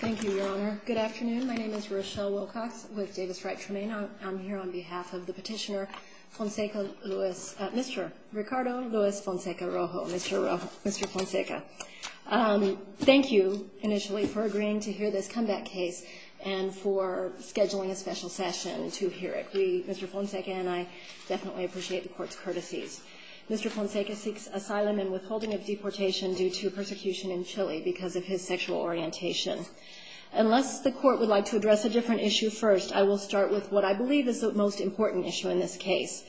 Thank you, Your Honor. Good afternoon. My name is Rochelle Wilcox with Davis-Wright-Tremain. I'm here on behalf of the petitioner Fonseca Luis, Mr. Ricardo Luis Fonseca Rojo, Mr. Rojo, Mr. Fonseca. Thank you, initially, for agreeing to hear this comeback case and for scheduling a special session to hear it. We, Mr. Fonseca and I, definitely appreciate the court's courtesies. Mr. Fonseca seeks asylum and withholding of deportation due to persecution in Chile because of his sexual orientation. Unless the court would like to address a different issue first, I will start with what I believe is the most important issue in this case.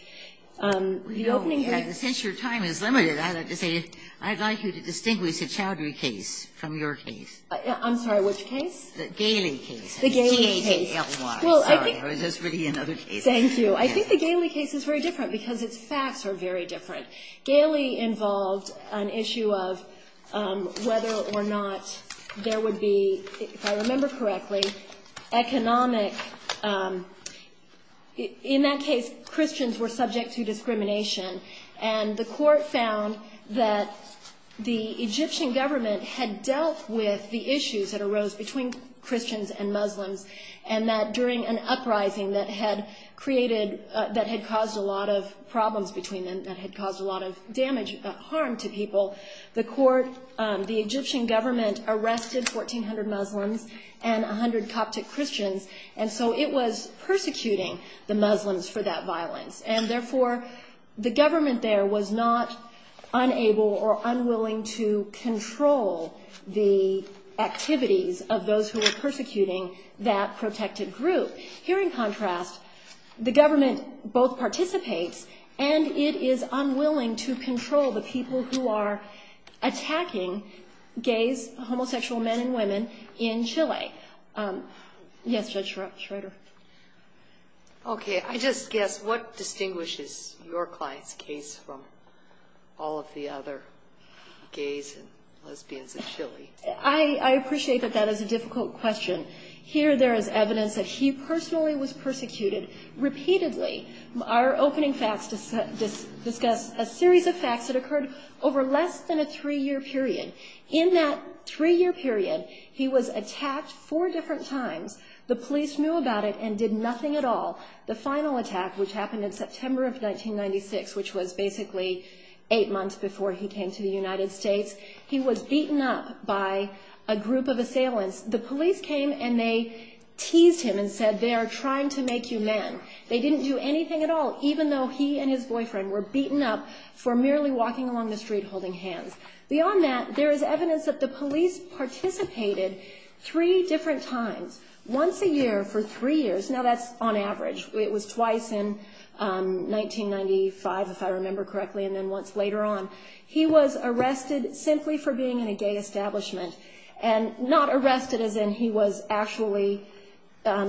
The opening verdicts We know, and since your time is limited, I'd like to say I'd like you to distinguish the Chowdhury case from your case. I'm sorry, which case? The Galey case. The Galey case. G-A-L-E-Y, sorry, that's really another case. Thank you. I think the Galey case is very different because its facts are very different. Galey involved an issue of whether or not there would be, if I remember correctly, economic, in that case, Christians were subject to discrimination. And the court found that the Egyptian government had dealt with the issues that arose between Christians and Muslims. And that during an uprising that had caused a lot of problems between them, that had caused a lot of damage, harm to people, the Egyptian government arrested 1,400 Muslims and 100 Coptic Christians. And so it was persecuting the Muslims for that violence. And therefore, the government there was not unable or unwilling to control the activities of those who were persecuting that protected group. Here in contrast, the government both participates and it is unwilling to control the people who are attacking gays, homosexual men and women in Chile. Yes, Judge Schroeder. Okay, I just guess, what distinguishes your client's case from all of the other gays and lesbians in Chile? I appreciate that that is a difficult question. Here there is evidence that he personally was persecuted repeatedly. Our opening facts discuss a series of facts that occurred over less than a three-year period. In that three-year period, he was attacked four different times. The police knew about it and did nothing at all. The final attack, which happened in September of 1996, which was basically eight months before he came to the United States, he was beaten up by a group of assailants. The police came and they teased him and said, they are trying to make you men. They didn't do anything at all, even though he and his boyfriend were beaten up for merely walking along the street holding hands. Beyond that, there is evidence that the police participated three different times, once a year for three years. Now, that's on average. It was twice in 1995, if I remember correctly, and then once later on. He was arrested simply for being in a gay establishment. And not arrested as in he was actually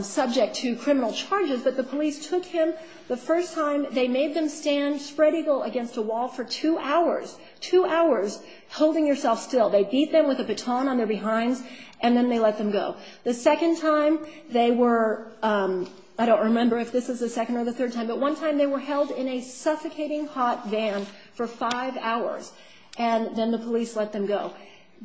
subject to criminal charges, but the police took him the first time, they made them stand spread-eagle against a wall for two hours. Two hours, holding yourself still. They beat them with a baton on their behinds, and then they let them go. The second time, they were, I don't remember if this is the second or the third time, but one time they were held in a suffocating hot van for five hours, and then the police let them go.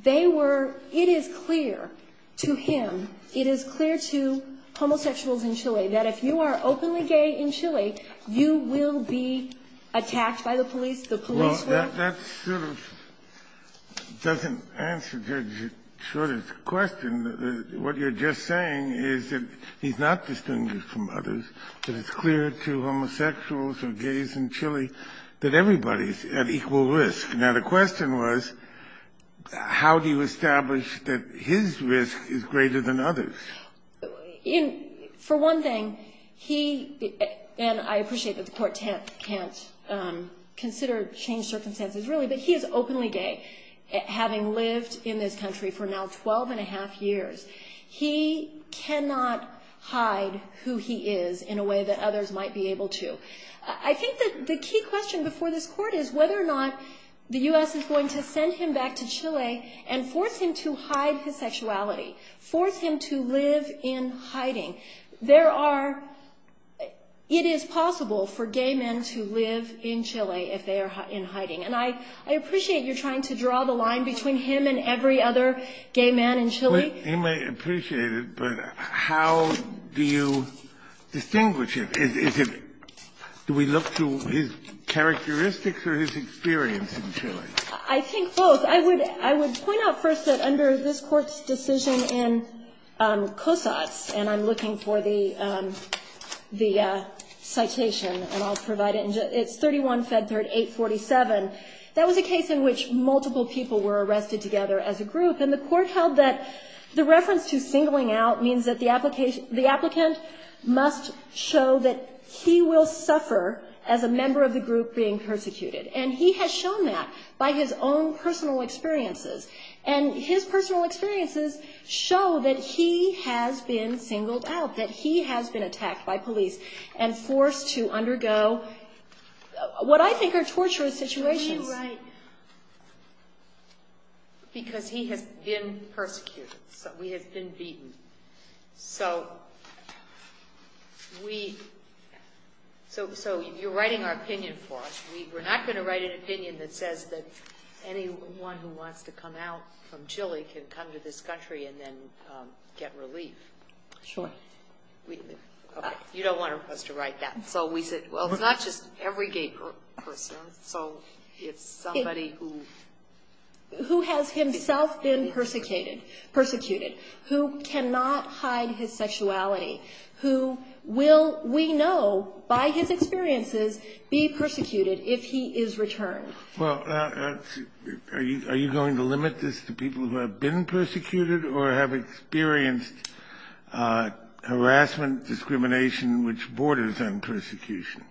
They were, it is clear to him, it is clear to homosexuals in Chile, that if you are openly gay in Chile, you will be attacked by the police, the police will. That sort of doesn't answer Judge's sort of question. What you're just saying is that he's not distinguished from others, that it's clear to homosexuals or gays in Chile that everybody's at equal risk. Now, the question was, how do you establish that his risk is greater than others? For one thing, he, and I appreciate that the court can't consider change circumstances, really, but he is openly gay, having lived in this country for now 12 and a half years. He cannot hide who he is in a way that others might be able to. I think that the key question before this court is whether or not the U.S. is going to send him back to Chile and force him to hide his sexuality, force him to live in hiding. There are, it is possible for gay men to live in Chile if they are in hiding, and I appreciate you're trying to draw the line between him and every other gay man in Chile. He may appreciate it, but how do you distinguish it? Is it, do we look to his characteristics or his experience in Chile? I think both. I would point out first that under this Court's decision in COSATS, and I'm looking for the citation, and I'll provide it, it's 31-Fed-3847. That was a case in which multiple people were arrested together as a group, and the court held that the reference to singling out means that the applicant must show that he will suffer as a member of the group being persecuted, and he has shown that by his own personal experiences, and his personal experiences show that he has been singled out, that he has been attacked by police, and forced to undergo what I think are torturous situations. Can we write, because he has been persecuted, we have been beaten, so we, so you're writing our opinion for us. We're not going to write an opinion that says that anyone who wants to come out from Chile can come to this country and then get relief. Sure. You don't want us to write that. So we said, well, it's not just every gay person, so it's somebody who... Who has himself been persecuted, who cannot hide his sexuality, who will, we know by his experiences, be persecuted if he is returned. Well, are you going to limit this to people who have been persecuted or have experienced harassment, discrimination, which borders on persecution?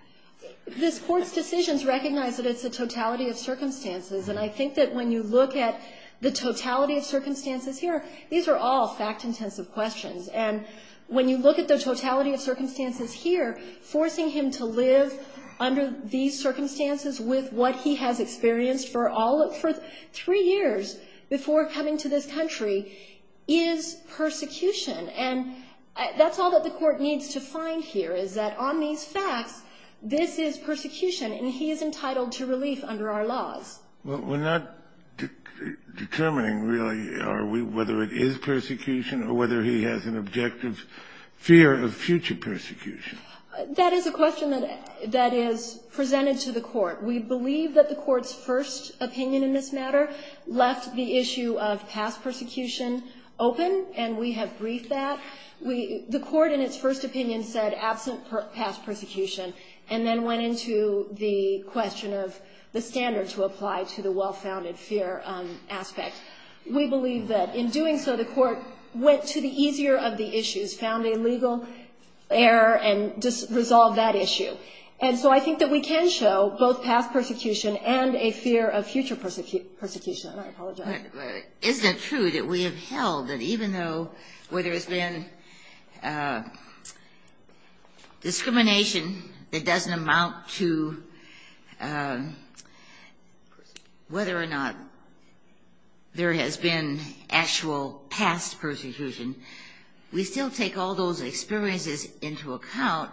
This court's decisions recognize that it's a totality of circumstances, and I think that when you look at the totality of circumstances here, these are all fact-intensive questions. And when you look at the totality of circumstances here, forcing him to live under these circumstances with what he has experienced for all of, for three years before coming to this country, is persecution. And that's all that the court needs to find here, is that on these facts, this is persecution, and he is entitled to relief under our laws. We're not determining, really, whether it is persecution or whether he has an objective fear of future persecution. That is a question that is presented to the court. We believe that the court's first opinion in this matter left the issue of past persecution open, and we have briefed that. The court, in its first opinion, said, absent past persecution, and then went into the question of the standard to apply to the well-founded fear aspect. We believe that in doing so, the court went to the easier of the issues, found a legal error, and just resolved that issue. And so I think that we can show both past persecution and a fear of future persecution. I apologize. Isn't it true that we have held that even though, where there has been discrimination that doesn't amount to whether or not there has been actual past persecution, we still take all those experiences into account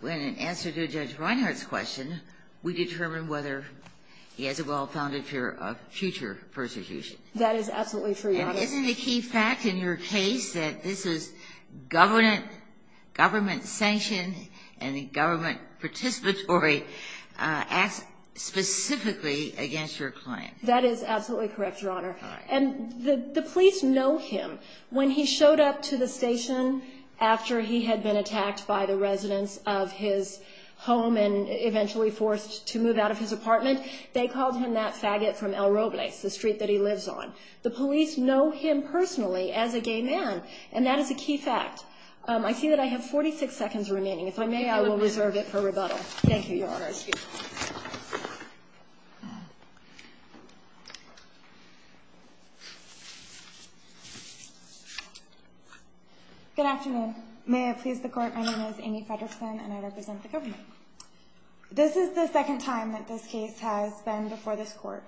when, in answer to Judge Reinhart's question, we determine whether he has a well-founded fear of future persecution? That is absolutely true, Your Honor. And isn't the key fact in your case that this is government sanction and a government participatory act specifically against your claim? That is absolutely correct, Your Honor. And the police know him. When he showed up to the station after he had been attacked by the residents of his home and eventually forced to move out of his apartment, they called him that faggot from El Robles, the street that he lives on. The police know him personally as a gay man, and that is a key fact. I see that I have 46 seconds remaining. If I may, I will reserve it for rebuttal. Thank you, Your Honor. Thank you. Good afternoon. May I please the Court? My name is Amy Fredersen, and I represent the government. This is the second time that this case has been before this Court.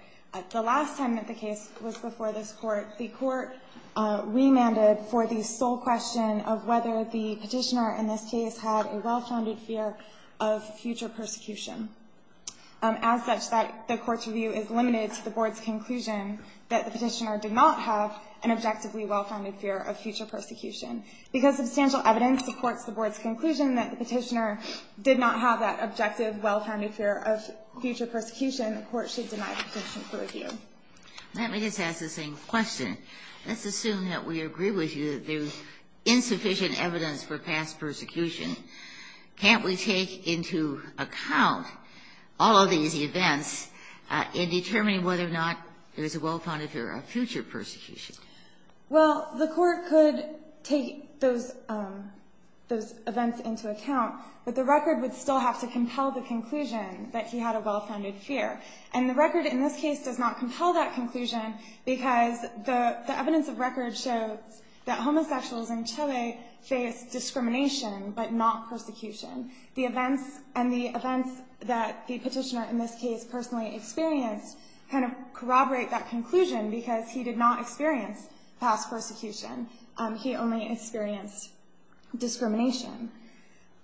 The last time that the case was before this Court, the Court remanded for the sole question of whether the petitioner in this case had a well-founded fear of future persecution, as such that the Court's review is limited to the Board's conclusion that the petitioner did not have an objectively well-founded fear of future persecution. Because substantial evidence supports the Board's conclusion that the petitioner did not have that objective, well-founded fear of future persecution, the Court should deny the petition for review. Let me just ask the same question. Let's assume that we agree with you that there's insufficient evidence for past persecution. Can't we take into account all of these events in determining whether or not there's a well-founded fear of future persecution? Well, the Court could take those events into account, but the record would still have to compel the conclusion that he had a well-founded fear. And the record in this case does not compel that conclusion because the evidence of record shows that homosexuals in Chile face discrimination but not persecution. The events that the petitioner in this case personally experienced kind of corroborate that conclusion because he did not experience past persecution. He only experienced discrimination.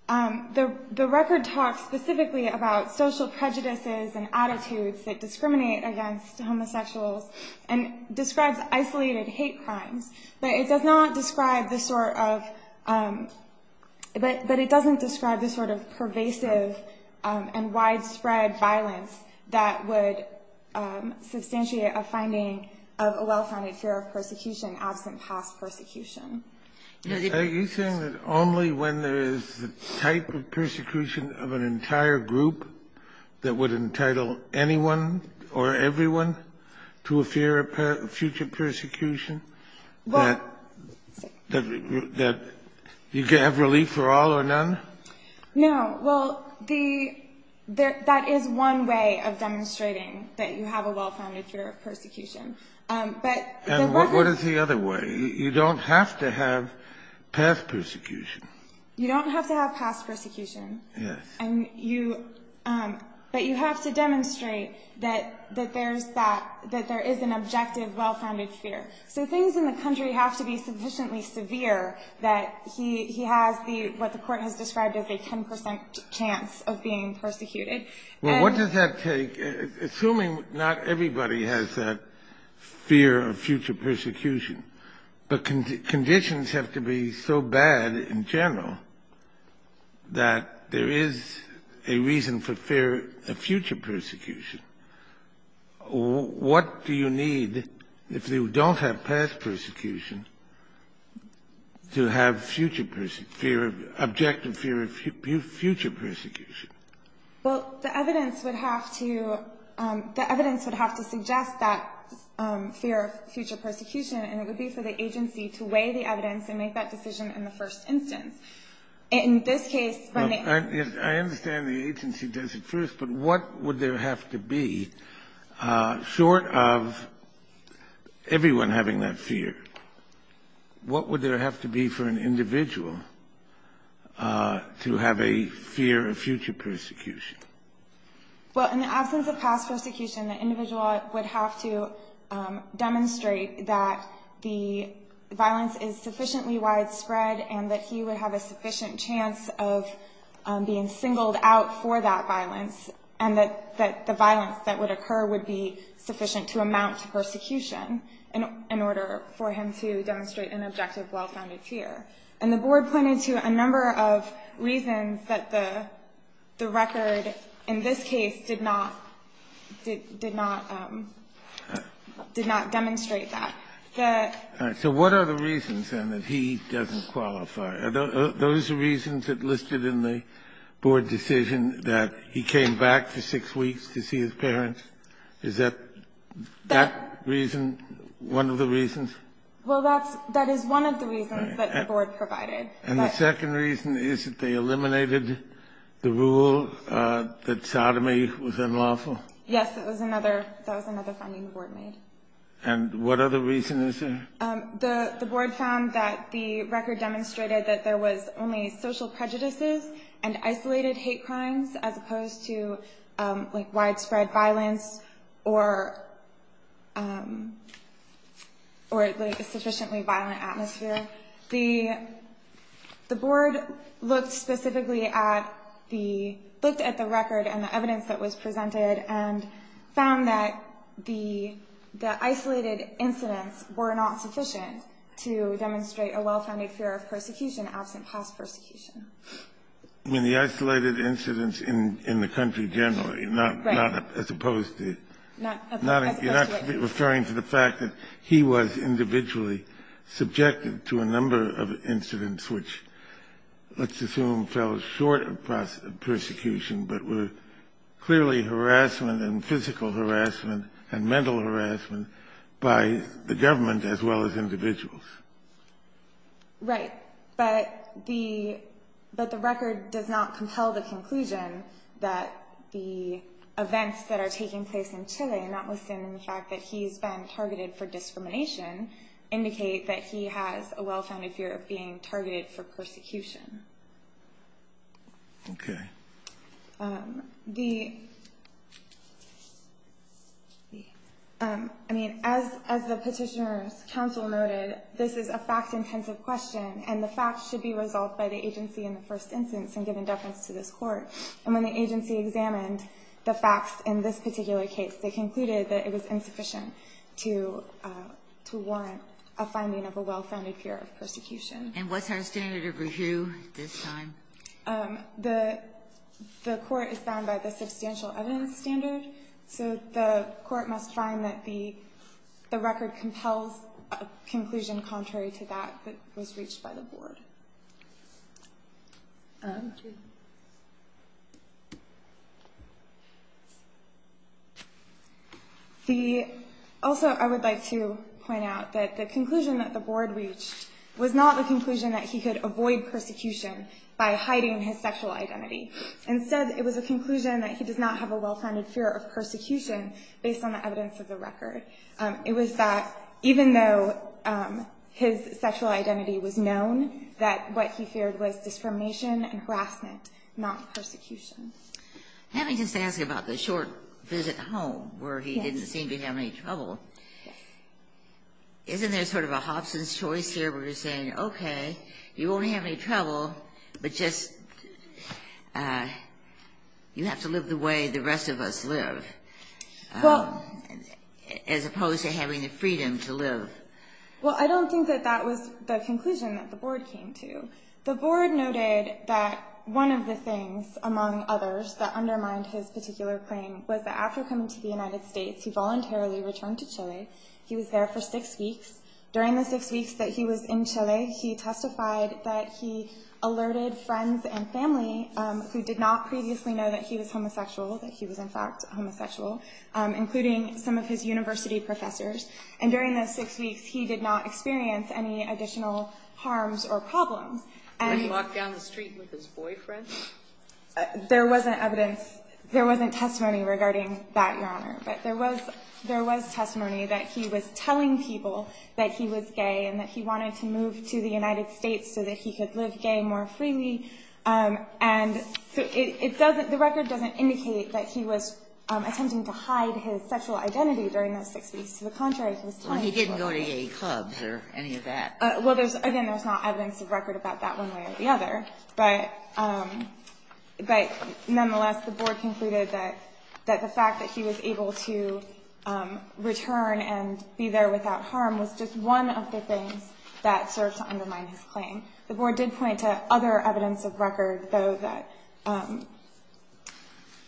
The record talks specifically about social prejudices and attitudes that discriminate against homosexuals and describes isolated hate crimes, but it does not describe the sort of – but it doesn't describe the sort of pervasive and widespread violence that would substantiate a finding of a well-founded fear of persecution absent past persecution. Are you saying that only when there is the type of persecution of an entire group that would entitle anyone or everyone to a fear of future persecution that you can have relief for all or none? No. Well, that is one way of demonstrating that you have a well-founded fear of persecution. And what is the other way? You don't have to have past persecution. You don't have to have past persecution, but you have to demonstrate that there is an objective, well-founded fear. So things in the country have to be sufficiently severe that he has what the court has described as a 10 percent chance of being persecuted. Well, what does that take? Assuming not everybody has that fear of future persecution, but conditions have to be so bad in general that there is a reason for fear of future persecution, what do you need if you don't have past persecution to have future – fear of – objective fear of future persecution? Well, the evidence would have to – the evidence would have to suggest that fear of future persecution, and it would be for the agency to weigh the evidence and make that decision in the first instance. In this case, when they – I understand the agency does it first, but what would there have to be short of everyone having that fear? What would there have to be for an individual to have a fear of future persecution? Well, in the absence of past persecution, the individual would have to demonstrate that the violence is sufficiently widespread and that he would have a sufficient chance of being singled out for that violence and that the violence that would occur would be sufficient to amount to persecution in order for him to demonstrate an objective, well-founded fear. And the board pointed to a number of reasons that the record in this case did not – did not – did not demonstrate that. So what are the reasons, then, that he doesn't qualify? Are those the reasons that listed in the board decision that he came back for six weeks to see his parents? Is that – that reason one of the reasons? Well, that's – that is one of the reasons that the board provided. And the second reason is that they eliminated the rule that sodomy was unlawful? Yes, that was another – that was another finding the board made. And what other reason is there? The board found that the record demonstrated that there was only social prejudices and isolated hate crimes as opposed to, like, widespread violence or, like, a sufficiently violent atmosphere. The board looked specifically at the – looked at the record and the evidence that was presented and found that the isolated incidents were not sufficient to demonstrate a well-founded fear of persecution absent past persecution. You mean the isolated incidents in the country generally? Right. Not as opposed to – Not as opposed to what? You're not referring to the fact that he was individually subjected to a number of incidents which let's assume fell short of persecution but were clearly harassment and physical harassment and mental harassment by the government as well as individuals? Right. But the – but the record does not compel the conclusion that the events that are taking place in Chile notwithstanding the fact that he's been targeted for discrimination indicate that he has a well-founded fear of being targeted for persecution. Okay. The – I mean, as the petitioner's counsel noted, this is a fact-intensive question and the facts should be resolved by the agency in the first instance and given deference to this court. And when the agency examined the facts in this particular case, they concluded that it was insufficient to warrant a finding of a well-founded fear of persecution. And what's our standard of review this time? The court is bound by the substantial evidence standard, so the court must find that the record compels a conclusion contrary to that that was reached by the board. The – also, I would like to point out that the conclusion that the board reached was not the conclusion that he could avoid persecution by hiding his sexual identity. Instead, it was a conclusion that he does not have a well-founded fear of persecution based on the evidence of the record. It was that even though his sexual identity was known, that what he feared was discrimination and harassment, not persecution. Let me just ask about the short visit home where he didn't seem to have any trouble. Yes. Okay. You won't have any trouble, but just – you have to live the way the rest of us live. Well – As opposed to having the freedom to live. Well, I don't think that that was the conclusion that the board came to. The board noted that one of the things, among others, that undermined his particular claim was that after coming to the United States, he voluntarily returned to Chile. He was there for six weeks. During the six weeks that he was in Chile, he testified that he alerted friends and family who did not previously know that he was homosexual, that he was, in fact, homosexual, including some of his university professors. And during those six weeks, he did not experience any additional harms or problems. Did he walk down the street with his boyfriend? There wasn't evidence – there wasn't testimony regarding that, Your Honor. But there was – there was testimony that he was telling people that he was gay and that he wanted to move to the United States so that he could live gay more freely. And it doesn't – the record doesn't indicate that he was attempting to hide his sexual identity during those six weeks. To the contrary, he was telling people – Well, he didn't go to gay clubs or any of that. Well, there's – again, there's not evidence of record about that one way or the other. But nonetheless, the board concluded that the fact that he was able to return and be there without harm was just one of the things that served to undermine his claim. The board did point to other evidence of record, though, that –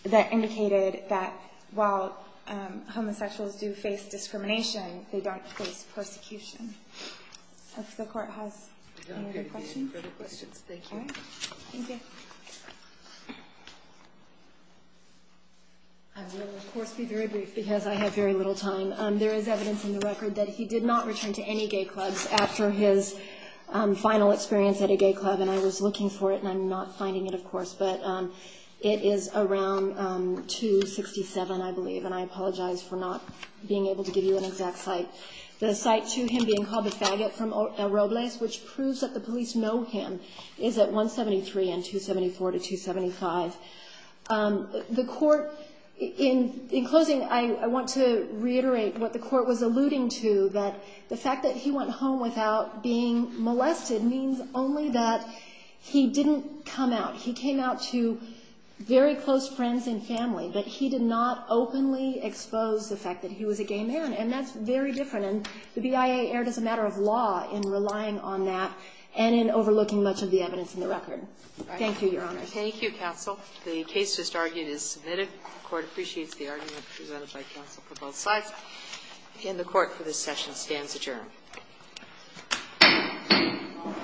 that indicated that while homosexuals do face discrimination, they don't face persecution. If the Court has any other questions. We don't have any further questions. Thank you. All right. Thank you. I will, of course, be very brief because I have very little time. There is evidence in the record that he did not return to any gay clubs after his final experience at a gay club. And I was looking for it, and I'm not finding it, of course. But it is around 267, I believe. And I apologize for not being able to give you an exact site. The site to him being called the faggot from El Robles, which proves that the police know him, is at 173 and 274 to 275. The Court, in closing, I want to reiterate what the Court was alluding to, that the fact that he went home without being molested means only that he didn't come out. He came out to very close friends and family, but he did not openly expose the fact that he was a gay man. And that's very different. And the BIA erred as a matter of law in relying on that and in overlooking much of the evidence in the record. Thank you, Your Honor. Thank you, counsel. The case just argued is submitted. The Court appreciates the argument presented by counsel for both sides. And the Court, for this session, stands adjourned. All rise. This Court, for this session, stands adjourned.